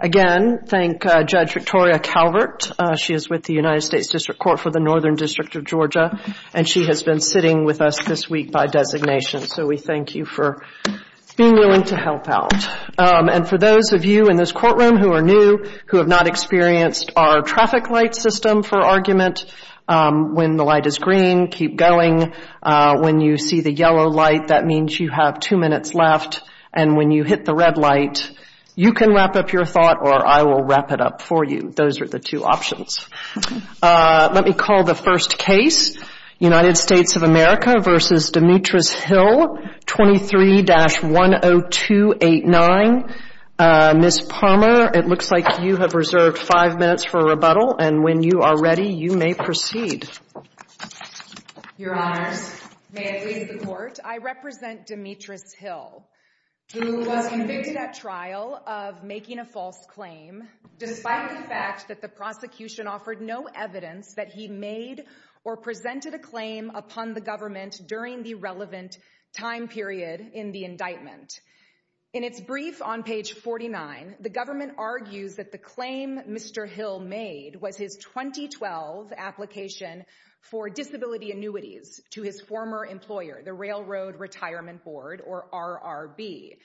Again, thank Judge Victoria Calvert. She is with the United States District Court for the Northern District of Georgia, and she has been sitting with us this week by designation. So we thank you for being willing to help out. And for those of you in this courtroom who are new, who have not experienced our traffic light system for argument, when the light is green, keep going. When you see the yellow light, that means you have two minutes left. And when you hit the red light, you can wrap up your thought, or I will wrap it up for you. Those are the two options. Let me call the first case, United States of America v. Demetris Hill, 23-10289. Ms. Palmer, it looks like you have reserved five minutes for a rebuttal, and when you are ready, you may proceed. Your Honors, may it please the Court, I represent Demetris Hill, who was convicted at trial of making a false claim, despite the fact that the prosecution offered no evidence that he made or presented a claim upon the government during the relevant time period in the indictment. In its brief on page 49, the government argues that the claim Mr. Hill made was his 2012 application for disability annuities to his former employer, the Railroad Retirement Board, or RRB.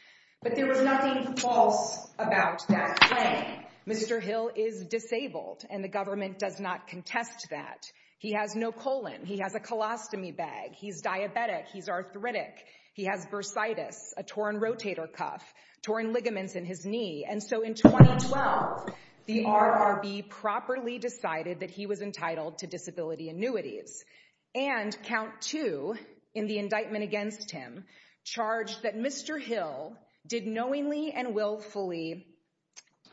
But there was nothing false about that claim. Mr. Hill is disabled, and the government does not contest that. He has no colon. He has a colostomy bag. He's diabetic. He's arthritic. He has bursitis, a torn rotator cuff, torn ligaments in his knee. And so in 2012, the RRB properly decided that he was entitled to disability annuities. And count two in the indictment against him charged that Mr. Hill did knowingly and willfully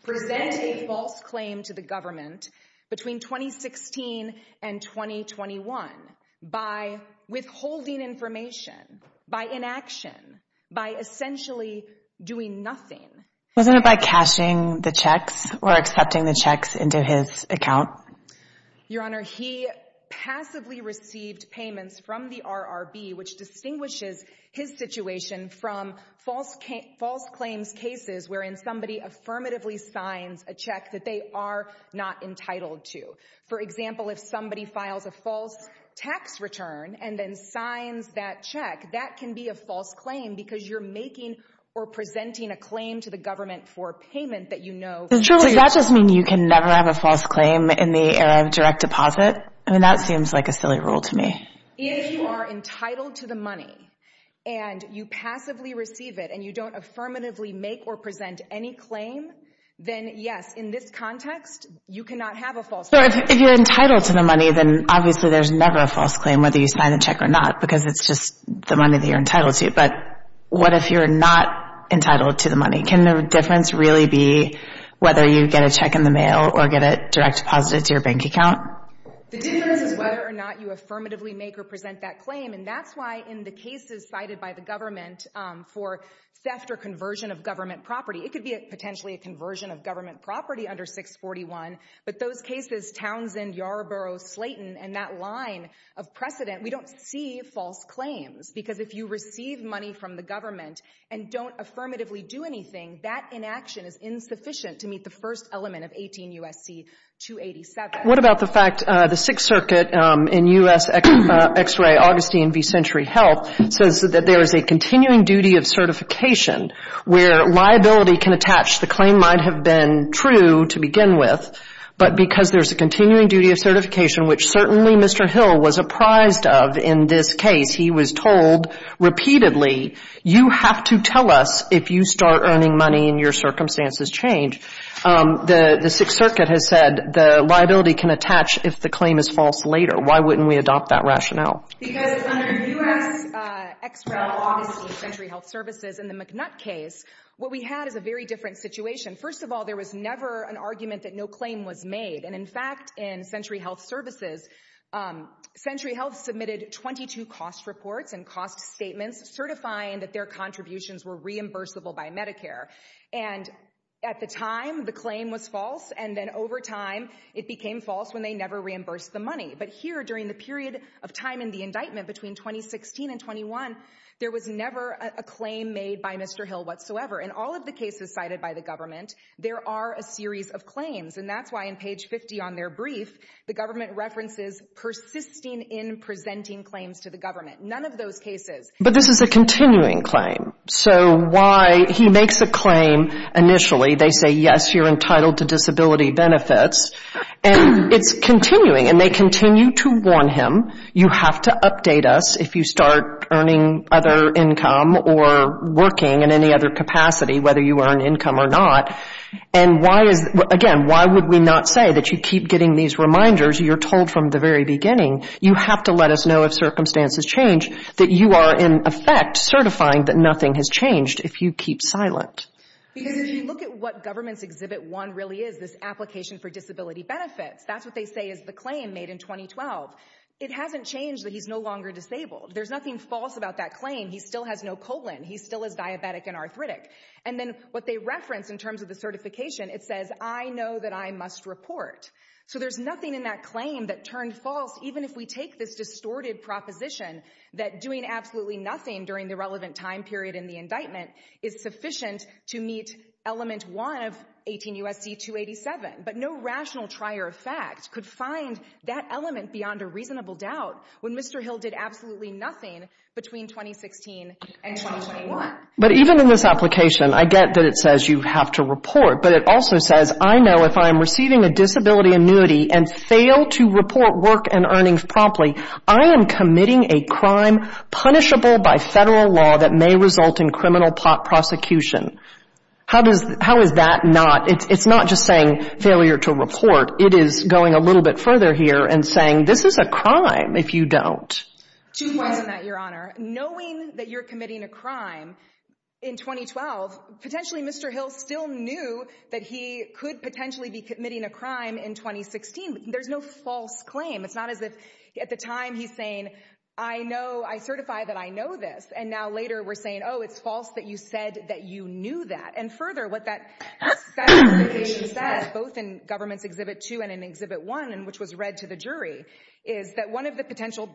present a false claim to the government between 2016 and 2021 by withholding information, by inaction, by essentially doing nothing. Wasn't it by cashing the checks or accepting the checks into his account? Your Honor, he passively received payments from the RRB, which distinguishes his situation from false claims cases wherein somebody affirmatively signs a check that they are not entitled to. For example, if somebody files a false tax return and then signs that check, that can be a false claim because you're making or presenting a claim to the government for payment that you know is true. Does that just mean you can never have a false claim in the area of direct deposit? I mean, that seems like a silly rule to me. If you are entitled to the money and you passively receive it and you don't affirmatively make or present any claim, then yes, in this context, you cannot have a false claim. So if you're entitled to the money, then obviously there's never a false claim whether you sign the check or not because it's just the money that you're entitled to. But what if you're not entitled to the money? Can the difference really be whether you get a check in the mail or get it direct deposited to your bank account? The difference is whether or not you affirmatively make or present that claim. And that's why in the cases cited by the government for theft or conversion of government property, it could be potentially a conversion of government property under 641. But those cases, Townsend, Yarborough, Slayton, and that line of precedent, we don't see false claims because if you receive money from the government and don't affirmatively do anything, that inaction is insufficient to meet the first element of 18 U.S.C. 287. What about the fact the Sixth Circuit in U.S. X-ray Augustine v. Century Health says that there is a continuing duty of certification where liability can attach the claim might have been true to begin with, but because there's a continuing duty of certification, which certainly Mr. Hill was apprised of in this case, he was told repeatedly, you have to tell us if you start earning money and your circumstances change. The Sixth Circuit has said the liability can attach if the claim is false later. Why wouldn't we adopt that rationale? Because under U.S. X-ray Augustine Century Health Services in the McNutt case, what we had is a very different situation. First of all, there was never an argument that no claim was made. And in fact, in Century Health Services, Century Health submitted 22 cost reports and cost statements certifying that their contributions were reimbursable by Medicare. And at the time, the claim was false. And then over time, it became false when they never reimbursed the money. But here during the period of time in the indictment between 2016 and 21, there was never a claim made by Mr. Hill whatsoever. In all of the cases cited by the government, there are a series of claims. And that's why in page 50 on their brief, the government references persisting in presenting claims to the government. None of those cases. But this is a continuing claim. So why he makes a claim initially, they say, yes, you're entitled to disability benefits. And it's continuing. And they continue to warn him, you have to update us if you start earning other income or working in any other capacity, whether you earn income or not. And why is, again, why would we not say that you keep getting these reminders, you're told from the very beginning, you have to let us know if circumstances change, that you are in effect certifying that nothing has changed if you keep silent. Because if you look at what Government's Exhibit 1 really is, this application for disability it hasn't changed that he's no longer disabled. There's nothing false about that claim. He still has no colon. He still is diabetic and arthritic. And then what they reference in terms of the certification, it says, I know that I must report. So there's nothing in that claim that turned false, even if we take this distorted proposition that doing absolutely nothing during the relevant time period in the indictment is sufficient to meet element one of 18 U.S.C. 287. But no rational trier of facts could find that element beyond a reasonable doubt when Mr. Hill did absolutely nothing between 2016 and 2021. But even in this application, I get that it says you have to report, but it also says, I know if I'm receiving a disability annuity and fail to report work and earnings promptly, I am committing a crime punishable by Federal law that may result in criminal prosecution. How does, how is that not, it's not just saying failure to report. It is going a little bit further here and saying this is a crime if you don't. Two points on that, Your Honor. Knowing that you're committing a crime in 2012, potentially Mr. Hill still knew that he could potentially be committing a crime in 2016. There's no false claim. It's not as if at the time he's saying, I know, I certify that I know this. And now later we're saying, oh, it's false that you said that you knew that. And further, what that says, both in government's Exhibit 2 and in Exhibit 1, and which was read to the jury, is that one of the potential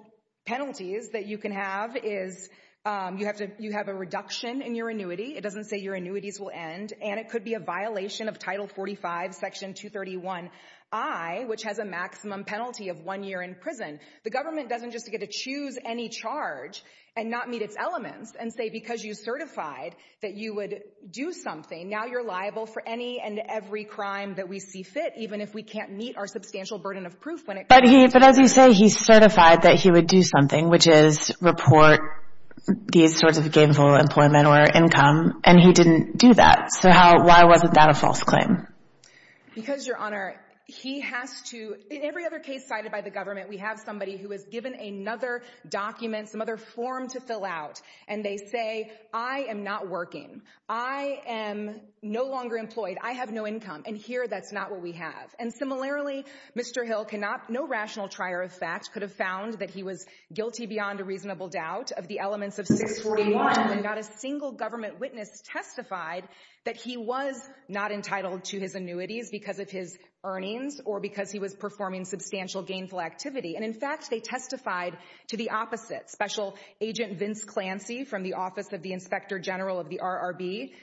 penalties that you can have is you have to, you have a reduction in your annuity. It doesn't say your annuities will end and it could be a violation of Title 45, Section 231I, which has a maximum penalty of one year in prison. The government doesn't just get to choose any charge and not meet its elements and say because you certified that you would do something, now you're liable for any and every crime that we see fit, even if we can't meet our substantial burden of proof when it comes to it. But he, but as you say, he certified that he would do something, which is report these sorts of gainful employment or income, and he didn't do that. So how, why wasn't that a false claim? Because, Your Honor, he has to, in every other case cited by the government, we have somebody who was given another document, some other form to fill out, and they say, I am not working. I am no longer employed. I have no income. And here, that's not what we have. And similarly, Mr. Hill cannot, no rational trier of fact could have found that he was guilty beyond a reasonable doubt of the elements of 641 and not a single government witness testified that he was not entitled to his annuities because of his earnings or because he was performing substantial gainful activity. And in fact, they testified to the opposite. Special Agent Vince Clancy from the Office of the Inspector General of the RRB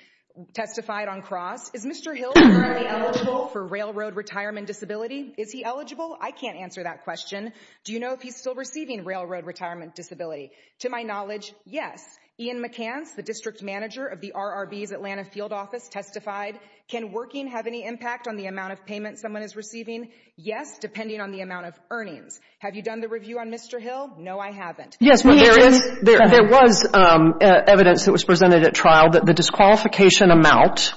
testified on cross, is Mr. Hill currently eligible for railroad retirement disability? Is he eligible? I can't answer that question. Do you know if he's still receiving railroad retirement disability? To my knowledge, yes. Ian McCance, the district manager of the RRB's Atlanta field office testified. Can working have any impact on the amount of payment someone is receiving? Yes, depending on the amount of earnings. Have you done the review on Mr. Hill? No, I haven't. Yes, there is, there was evidence that was presented at trial that the disqualification amount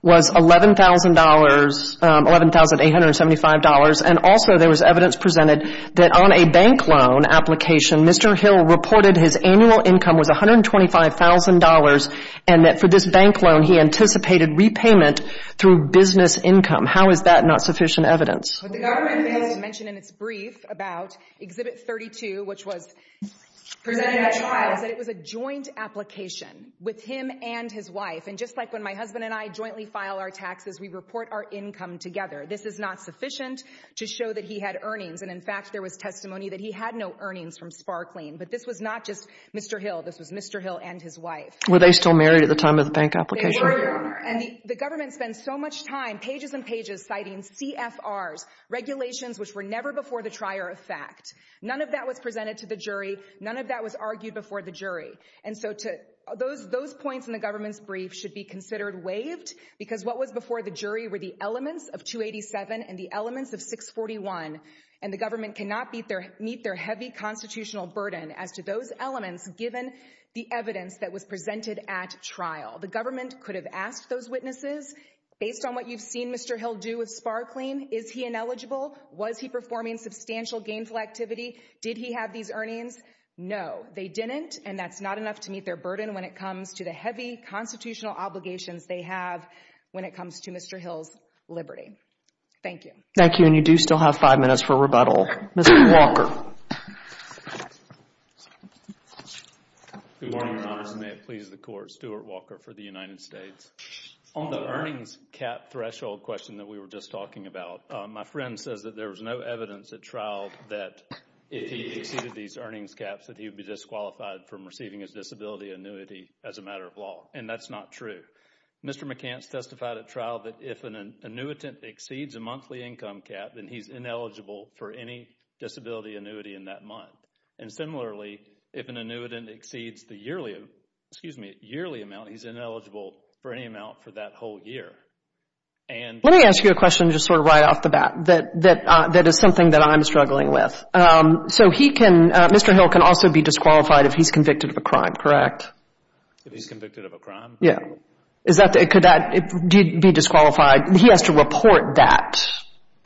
was $11,000, $11,875, and also there was evidence presented that on a bank loan application, Mr. Hill reported his annual income was $125,000, and that for this bank loan, he anticipated repayment through business income. How is that not sufficient evidence? What the government has mentioned in its brief about Exhibit 32, which was presented at trial, is that it was a joint application with him and his wife. And just like when my husband and I jointly file our taxes, we report our income together. This is not sufficient to show that he had earnings. And in fact, there was testimony that he had no earnings from Sparkling. But this was not just Mr. Hill. This was Mr. Hill and his wife. Were they still married at the time of the bank application? They were, and the government spends so much time, pages and pages, citing CFRs, regulations which were never before the trier of fact. None of that was presented to the jury. None of that was argued before the jury. And so those points in the government's brief should be considered waived because what was before the jury were the elements of 287 and the elements of 641. And the government cannot meet their heavy constitutional burden as to those elements given the evidence that was presented at trial. The government could have asked those witnesses, based on what you've seen Mr. Hill do with Sparkling, is he ineligible? Was he performing substantial gainful activity? Did he have these earnings? No, they didn't. And that's not enough to meet their burden when it comes to the heavy constitutional obligations they have when it comes to Mr. Hill's liberty. Thank you. Thank you, and you do still have five minutes for rebuttal. Mr. Walker. Good morning, Your Honors. May it please the Court, Stuart Walker for the United States. On the earnings cap threshold question that we were just talking about, my friend says that there was no evidence at trial that if he exceeded these earnings caps that he would be disqualified from receiving his disability annuity as a matter of law, and that's not true. Mr. McCance testified at trial that if an annuitant exceeds a monthly income cap, then he's ineligible for any disability annuity in that month. And similarly, if an annuitant exceeds the yearly amount, he's ineligible for any amount for that whole year. Let me ask you a question just sort of right off the bat that is something that I'm struggling with. So he can, Mr. Hill can also be disqualified if he's convicted of a crime, correct? If he's convicted of a crime? Yeah. Could that be disqualified? He has to report that.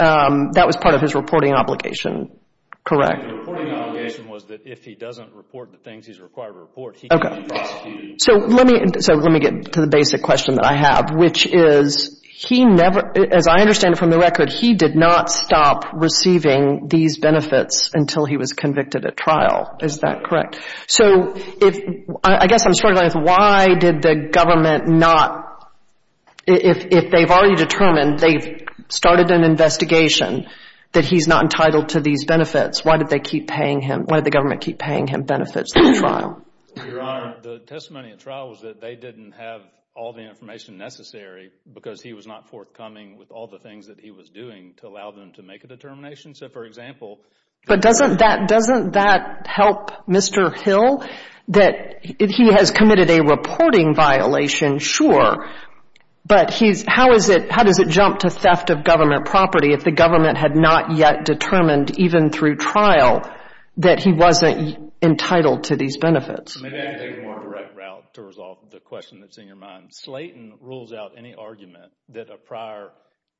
That was part of his reporting obligation, correct? The reporting obligation was that if he doesn't report the things he's required to report, he can be prosecuted. Okay. So let me get to the basic question that I have, which is he never, as I understand it from the record, he did not stop receiving these benefits until he was convicted at trial. Is that correct? So if, I guess I'm struggling with why did the government not, if they've already determined, they've started an investigation that he's not entitled to these benefits, why did they keep paying him, why did the government keep paying him benefits at trial? Your Honor, the testimony at trial was that they didn't have all the information necessary because he was not forthcoming with all the things that he was doing to allow them to make a determination. So for example, But doesn't that, doesn't that help Mr. Hill that he has committed a reporting violation? Sure. But he's, how is it, how does it jump to theft of government property if the government had not yet determined even through trial that he wasn't entitled to these benefits? Maybe I can take a more direct route to resolve the question that's in your mind. Slayton rules out any argument that a prior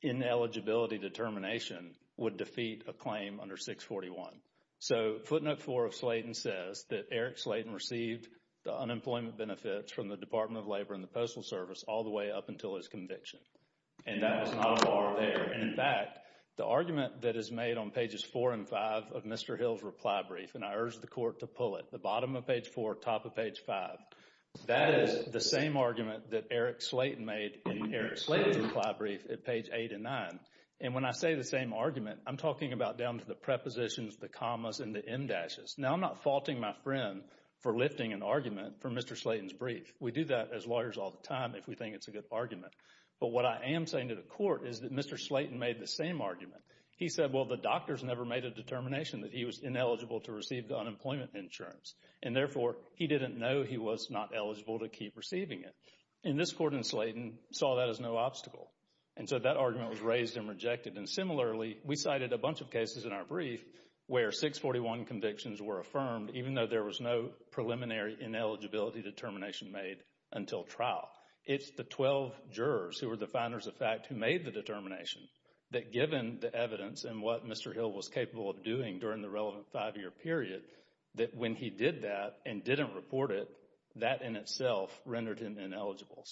ineligibility determination would defeat a claim under Section 641. So footnote 4 of Slayton says that Eric Slayton received the unemployment benefits from the Department of Labor and the Postal Service all the way up until his conviction. And that is not a bar there. And in fact, the argument that is made on pages 4 and 5 of Mr. Hill's reply brief, and I urge the Court to pull it, the bottom of page 4, top of page 5, that is the same argument that Eric Slayton made in Eric Slayton's reply brief at page 8 and 9. And when I say the same argument, I'm talking about down to the prepositions, the commas, and the em dashes. Now, I'm not faulting my friend for lifting an argument for Mr. Slayton's brief. We do that as lawyers all the time if we think it's a good argument. But what I am saying to the Court is that Mr. Slayton made the same argument. He said, well, the doctors never made a determination that he was ineligible to receive the unemployment insurance. And therefore, he didn't know he was not eligible to keep receiving it. And this Court in Slayton saw that as no obstacle. And so that argument was raised and rejected. And similarly, we cited a bunch of cases in our brief where 641 convictions were affirmed, even though there was no preliminary ineligibility determination made until trial. It's the 12 jurors who were the finders of fact who made the determination that given the evidence and what Mr. Hill was capable of doing during the relevant five-year period, that when he did that and didn't report it, that in itself rendered him ineligible.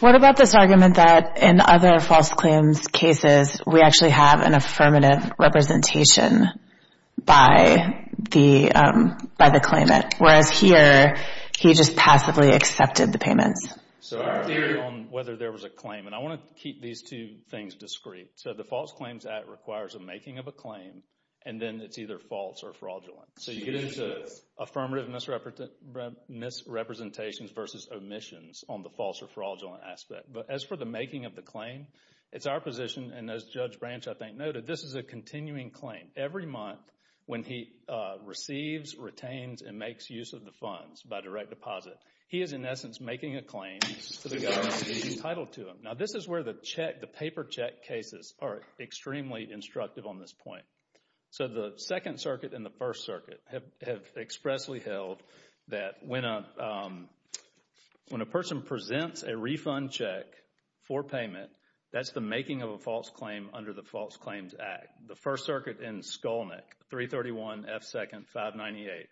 What about this argument that in other false claims cases, we actually have an affirmative representation by the claimant, whereas here, he just passively accepted the payments? So our theory on whether there was a claim, and I want to keep these two things discreet. So the False Claims Act requires a making of a claim, and then it's either false or fraudulent. So you get into affirmative misrepresentations versus omissions on the false or fraudulent aspect. But as for the making of the claim, it's our position, and as Judge Branch, I think, noted, this is a continuing claim. Every month when he receives, retains, and makes use of the funds by direct deposit, he is in essence making a claim to the government to be entitled to them. Now, this is where the paper check cases are extremely instructive on this point. So the Second Circuit and the First Circuit have expressly held that when a person presents a refund check for payment, that's the making of a false claim under the False Claims Act. The First Circuit in Skolnick, 331 F. 2nd. 598.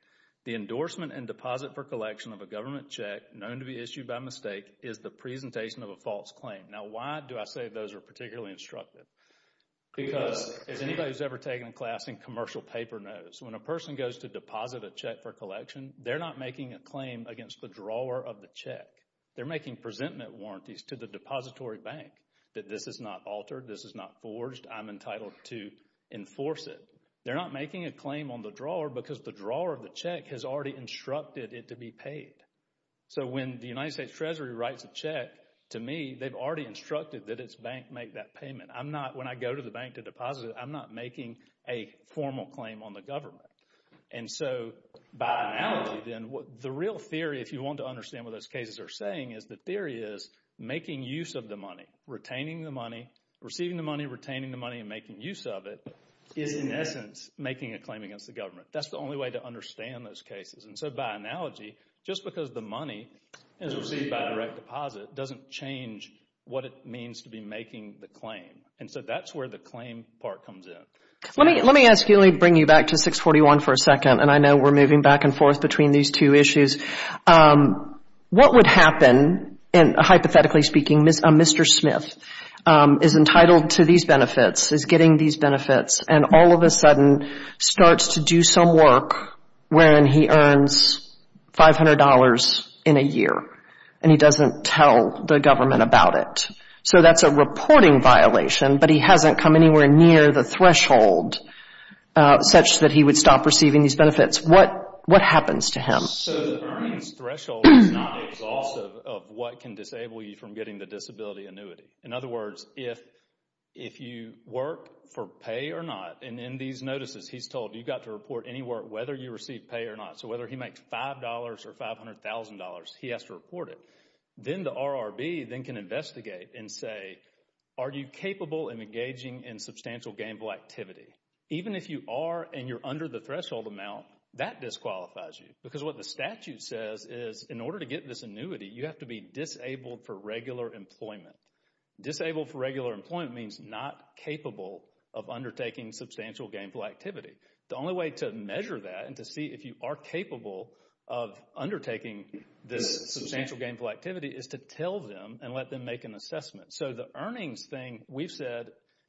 The endorsement and deposit for collection of a government check known to be issued by mistake is the presentation of a false claim. Now, why do I say those are particularly instructive? Because as anybody who's ever taken a class in commercial paper knows, when a person goes to deposit a check for collection, they're not making a claim against the drawer of the check. They're making presentment warranties to the depository bank that this is not altered, this is not forged, I'm entitled to enforce it. They're not making a claim on the drawer because the drawer of the check has already instructed it to be paid. So when the United States Treasury writes a check, to me, they've already instructed that its bank make that payment. I'm not, when I go to the bank to deposit it, I'm not making a formal claim on the government. And so by analogy then, the real theory, if you want to understand what those cases are saying, is the theory is making use of the money, retaining the money, receiving the money, retaining the money, and making use of it is in essence making a claim against the government. That's the only way to understand those cases. And so by analogy, just because the money is received by direct deposit doesn't change what it means to be making the claim. And so that's where the claim part comes in. Let me ask you, let me bring you back to 641 for a second, and I know we're moving back and forth between these two issues. What would happen, hypothetically speaking, a Mr. Smith is entitled to these benefits, is getting these benefits, and all of a sudden starts to do some work when he earns $500 in a year and he doesn't tell the government about it. So that's a reporting violation, but he hasn't come anywhere near the threshold such that he would stop receiving these benefits. What happens to him? So the earnings threshold is not exhaustive of what can disable you from getting the disability annuity. In other words, if you work for pay or not, and in these notices he's told you've got to report any work whether you receive pay or not. So whether he makes $5 or $500,000, he has to report it. Then the RRB can investigate and say, are you capable of engaging in substantial gainful activity? Even if you are and you're under the threshold amount, that disqualifies you. Because what the statute says is in order to get this annuity, you have to be disabled for regular employment. Disabled for regular employment means not capable of undertaking substantial gainful activity. The only way to measure that and to see if you are capable of undertaking this substantial gainful activity is to tell them and let them make an assessment. So the earnings thing we've said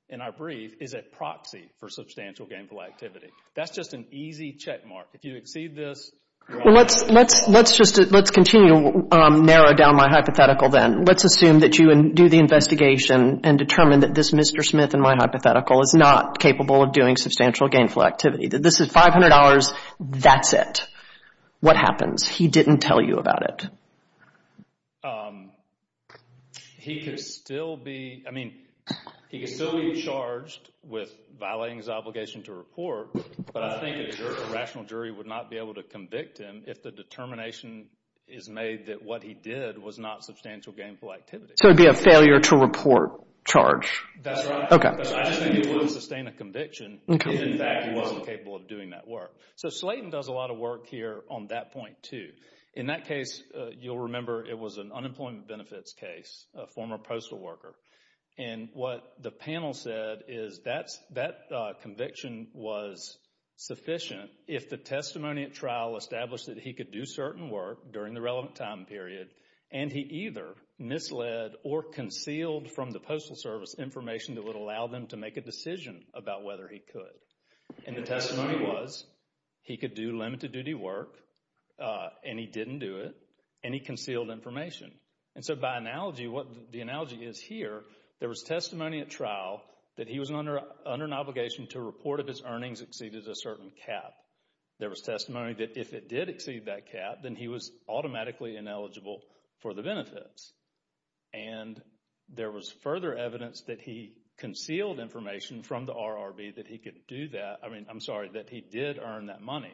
in our brief is a proxy for substantial gainful activity. That's just an easy check mark. If you exceed this... Let's continue to narrow down my hypothetical then. Let's assume that you do the investigation and determine that this Mr. Smith in my hypothetical is not capable of doing substantial gainful activity. This is $500, that's it. What happens? He didn't tell you about it. He could still be charged with violating his obligation to report, but I think a rational jury would not be able to convict him if the determination is made that what he did was not substantial gainful activity. So it would be a failure to report charge. I just think it wouldn't sustain a conviction if in fact he wasn't capable of doing that work. So Slayton does a lot of work here on that point too. In that case, you'll remember it was an unemployment benefits case, a former postal worker. And what the panel said is that conviction was sufficient if the testimony at trial established that he could do certain work during the relevant time period and he either misled or concealed from the Postal Service information that would allow them to make a decision about whether he could. And the testimony was he could do limited duty work and he didn't do it and he concealed information. And so by analogy, what the analogy is here, there was testimony at trial that he was under an obligation to report if his earnings exceeded a certain cap. There was testimony that if it did exceed that cap, then he was automatically ineligible for the benefits. And there was further evidence that he concealed information from the RRB that he could do that, I mean, I'm sorry, that he did earn that money.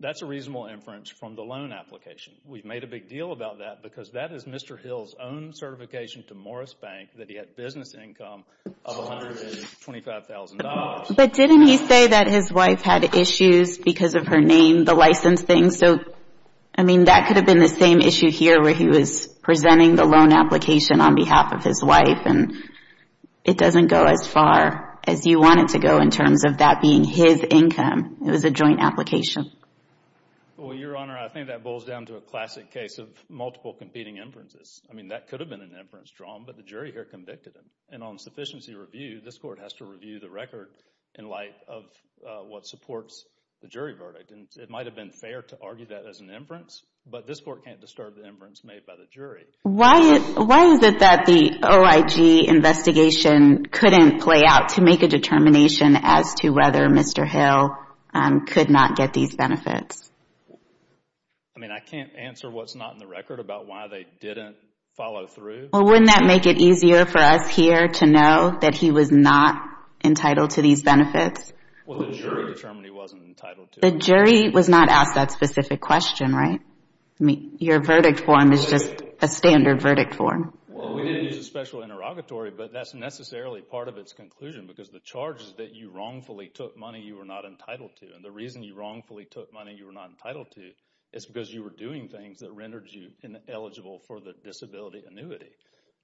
That's a reasonable inference from the loan application. We've made a big deal about that because that is Mr. Hill's own certification to Morris Bank that he had business income of $125,000. But didn't he say that his wife had issues because of her name, the license thing? So, I mean, that could have been the same issue here where he was presenting the loan application on behalf of his wife and it doesn't go as far as you want it to go in terms of that being his income. It was a joint application. Well, Your Honor, I think that boils down to a classic case of multiple competing inferences. I mean, that could have been an inference drawn, but the jury here convicted him. And on sufficiency review, this Court has to review the record in light of what supports the jury verdict. And it might have been fair to argue that as an inference, but this Court can't disturb the inference made by the jury. Why is it that the OIG investigation couldn't play out to make a determination as to whether Mr. Hill could not get these benefits? I mean, I can't answer what's not in the record about why they didn't follow through. Well, wouldn't that make it easier for us here to know that he was not entitled to these benefits? Well, the jury determined he wasn't entitled to them. The jury was not asked that specific question, right? I mean, your verdict form is just a standard verdict form. Well, we didn't use a special interrogatory, but that's necessarily part of its conclusion because the charge is that you wrongfully took money you were not entitled to. And the reason you wrongfully took money you were not entitled to is because you were doing things that rendered you ineligible for the disability annuity.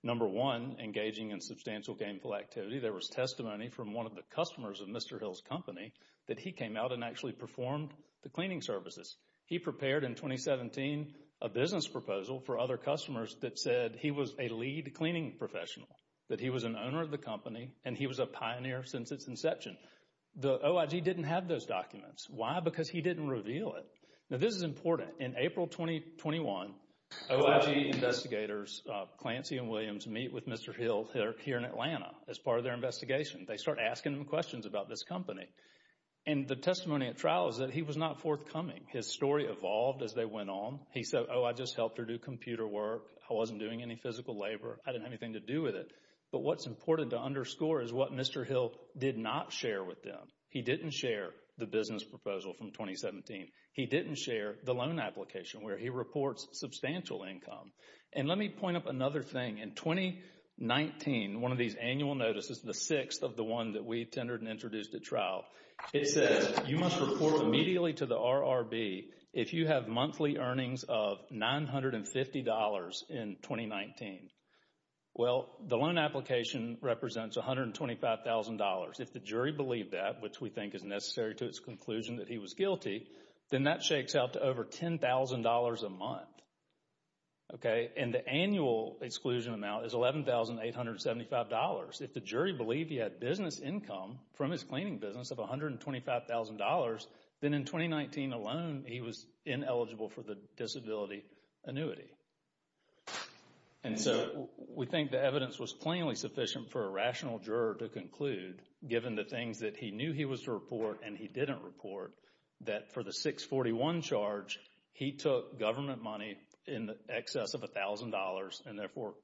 Number one, engaging in substantial gainful activity. There was testimony from one of the customers of Mr. Hill's company that he came out and actually performed the cleaning services. He prepared in 2017 a business proposal for other customers that said he was a lead cleaning professional, that he was an owner of the company and he was a pioneer since its inception. The OIG didn't have those documents. Why? Because he didn't reveal it. Now, this is important. In April 2021, OIG investigators Clancy and Williams meet with Mr. Hill here in Atlanta as part of their investigation. They start asking him questions about this company. And the testimony at trial is that he was not forthcoming. His story evolved as they went on. He said, oh, I just helped her do computer work. I wasn't doing any physical labor. I didn't have anything to do with it. But what's important to underscore is what Mr. Hill did not share with them. He didn't share the business proposal from 2017. He didn't share the loan application where he reports substantial income. And let me point up another thing. In 2019, one of these annual notices, the sixth of the one that we tendered and introduced at trial, it says you must report immediately to the RRB if you have monthly earnings of $950 in 2019. Well, the conclusion that he was guilty, then that shakes out to over $10,000 a month. Okay. And the annual exclusion amount is $11,875. If the jury believed he had business income from his cleaning business of $125,000, then in 2019 alone, he was ineligible for the disability annuity. And so we think the evidence was plainly sufficient for a rational juror to report and he didn't report that for the 641 charge, he took government money in excess of $1,000 and therefore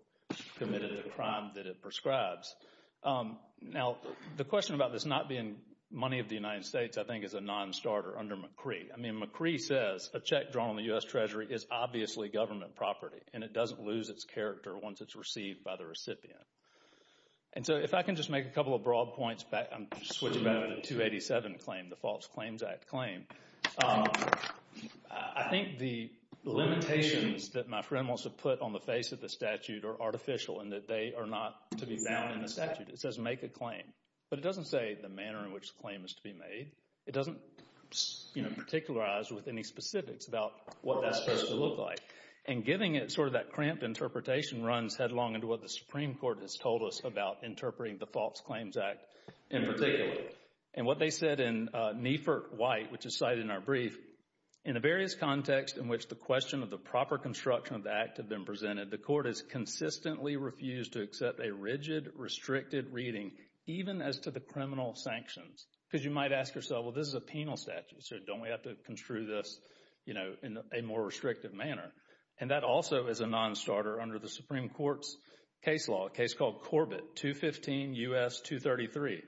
committed a crime that it prescribes. Now, the question about this not being money of the United States, I think, is a non-starter under McCree. I mean, McCree says a check drawn on the U.S. Treasury is obviously government property and it doesn't lose its character once it's received by the recipient. And so if I can just make a couple of broad points back, I'm switching back to the 287 claim, the False Claims Act claim. I think the limitations that my friend wants to put on the face of the statute are artificial and that they are not to be found in the statute. It says make a claim, but it doesn't say the manner in which the claim is to be made. It doesn't, you know, particularize with any specifics about what that's supposed to look like. And giving it sort of that cramped interpretation runs headlong into what the Supreme Court has told us about interpreting the False Claims Act in particular. And what they said in Niefert White, which is cited in our brief, in a various context in which the question of the proper construction of the act had been presented, the court has consistently refused to accept a rigid, restricted reading even as to the criminal sanctions. Because you might ask yourself, well, this is a penal statute, so don't we have to construe this, you know, in a more restrictive manner? And that also is a non-starter under the Supreme Court's case law, a case called Corbett 215 U.S. 233.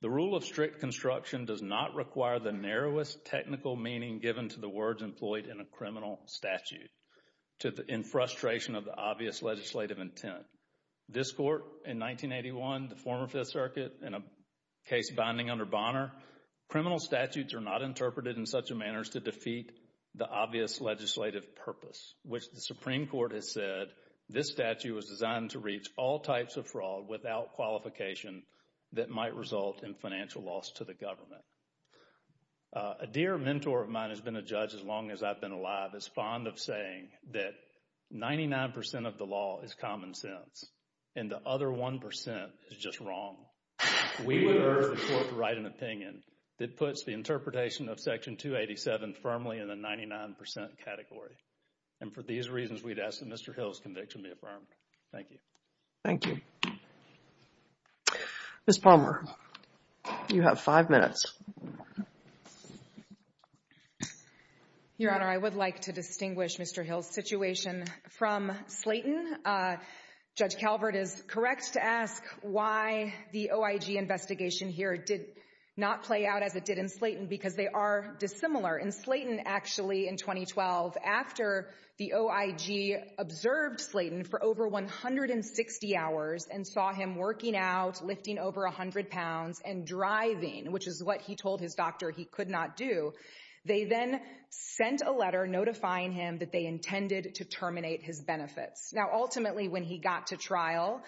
The rule of strict construction does not require the narrowest technical meaning given to the words employed in a criminal statute in frustration of the obvious legislative intent. This court in 1981, the former Fifth Circuit, in a case binding under Bonner, criminal statutes are not interpreted in such a manner as to defeat the obvious legislative purpose, which the Supreme Court has said this statute was designed to reach all types of fraud without qualification that might result in financial loss to the government. A dear mentor of mine has been a judge as long as I've been alive is fond of saying that 99% of the law is common sense, and the other 1% is just wrong. We live infirmly in the 99% category. And for these reasons, we'd ask that Mr. Hill's conviction be affirmed. Thank you. Thank you. Ms. Palmer, you have five minutes. Your Honor, I would like to distinguish Mr. Hill's situation from Slayton. Judge Calvert is correct to ask why the OIG investigation here did not play out as it did in Slayton because they are dissimilar. In Slayton, actually, in 2012, after the OIG observed Slayton for over 160 hours and saw him working out, lifting over 100 pounds, and driving, which is what he told his doctor he could not do, they then sent a letter notifying him that they intended to terminate his benefits. Now, ultimately, when he got to trial,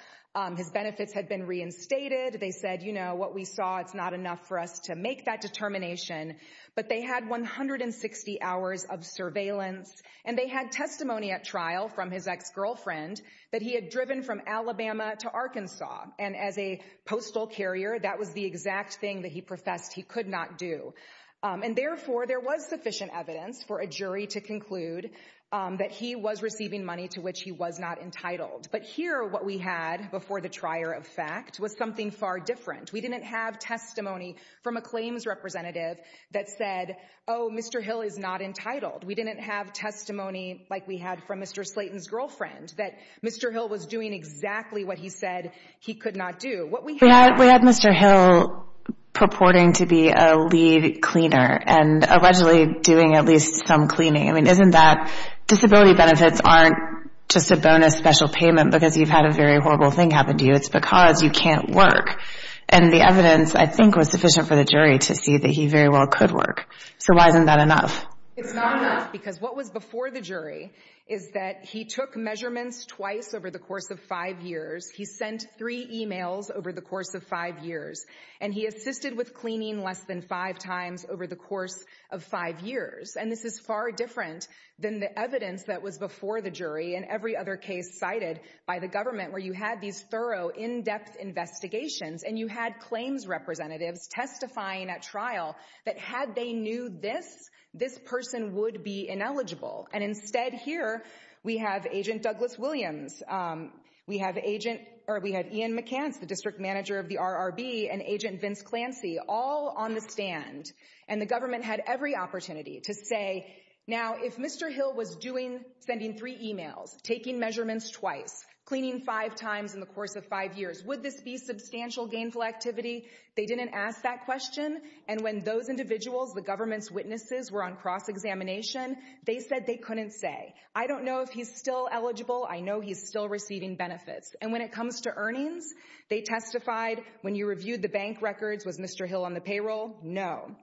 his benefits had been reinstated. They said, you know, what we saw, it's not enough for us to make that determination. But they had 160 hours of surveillance, and they had testimony at trial from his ex-girlfriend that he had driven from Alabama to Arkansas. And as a postal carrier, that was the exact thing that he professed he could not do. And therefore, there was sufficient evidence for a jury to conclude that he was receiving money to which he was not entitled. But here, what we had before the trier of fact was something far different. We didn't have testimony from a claims representative that said, oh, Mr. Hill is not entitled. We didn't have testimony like we had from Mr. Slayton's girlfriend that Mr. Hill was doing exactly what he said he could not do. What we had — We had Mr. Hill purporting to be a lead cleaner and allegedly doing at least some cleaning. I mean, isn't that — disability benefits aren't just a bonus special payment because you've had a very horrible thing happen to you. It's because you can't work. And the evidence, I think, was sufficient for the jury to see that he very well could work. So why isn't that enough? It's not enough because what was before the jury is that he took measurements twice over the course of five years. He sent three emails over the course of five years. And he assisted with cleaning less than five times over the course of five years. And this is far different than the evidence that was before the jury and every other case cited by the government where you had these thorough, in-depth investigations and you had claims representatives testifying at trial that had they knew this, this person would be ineligible. And instead, here, we have Agent Douglas Williams. We have Agent — or we have Ian McCants, the district manager of the RRB, and Agent Vince Clancy all on the stand. And the government had every opportunity to say, now, if Mr. Hill was doing — sending three emails, taking measurements twice, cleaning five times in the course of five years, would this be substantial gainful activity? They didn't ask that question. And when those individuals, the government's witnesses, were on cross-examination, they said they couldn't say. I don't know if he's still eligible. I know he's still receiving benefits. And when it comes to earnings, they testified, when you reviewed the bank records, was Mr. Hill on the payroll? No.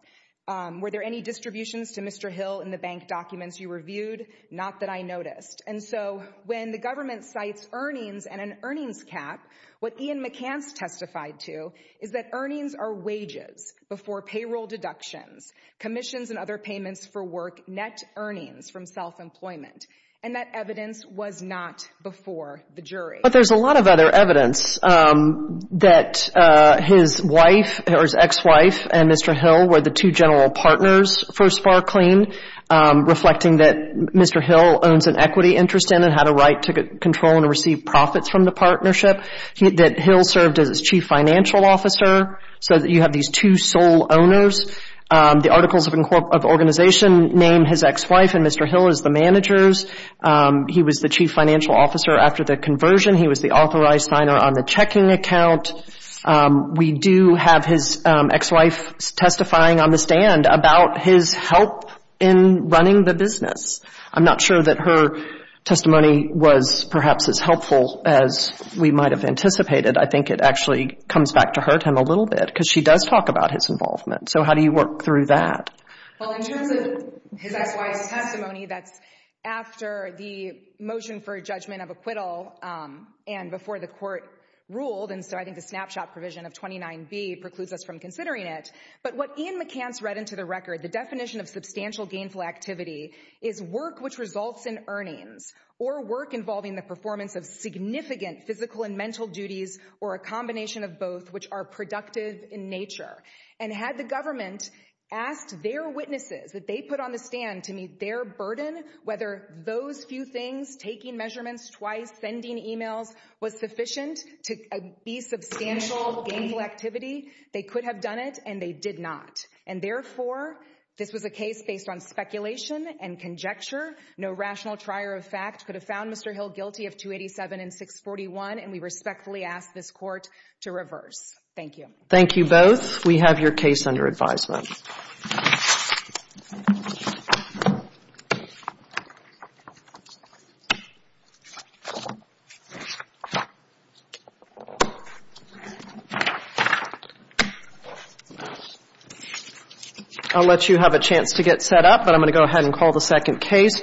Were there any distributions to Mr. Hill in the bank documents you reviewed? Not that I noticed. And so when the government cites earnings and an earnings cap, what Ian McCants testified to is that earnings are wages before payroll deductions, commissions and other payments for work, net earnings from self-employment. And that evidence was not before the jury. But there's a lot of other evidence that his wife or his ex-wife and Mr. Hill were the two general partners for SPARClean, reflecting that Mr. Hill owns an equity interest in and had a right to control and receive profits from the partnership, that Hill served as its chief financial officer. So you have these two sole owners. The Articles of Organization name his ex-wife and Mr. Hill as the managers. He was the chief financial officer after the conversion. He was the authorized signer on the checking account. We do have his ex-wife testifying on the stand about his help in running the business. I'm not sure that her testimony was perhaps as helpful as we might have anticipated. I think it actually comes back to hurt him a little bit, because she does talk about his involvement. So how do you work through that? Well, in terms of his ex-wife's testimony, that's after the motion for judgment of acquittal and before the court ruled. And so I think the snapshot provision of 29B precludes us from considering it. But what Ian McCants read into the record, the definition of substantial gainful activity is work which results in earnings or work involving the performance of significant physical and mental duties or a combination of both, which are productive in nature. And had the government asked their witnesses that they put on the stand to meet their burden, whether those few things, taking measurements twice, sending emails, was sufficient to be substantial gainful activity, they could have done it, and they did not. And therefore, this was a case based on speculation and conjecture. No rational trier of fact could have found Mr. Hill guilty of 287 and 641, and we respectfully ask this court to reverse. Thank you. Thank you both. We have your case under advisement. I'll let you have a chance to get set up, but I'm going to go ahead and call the second case.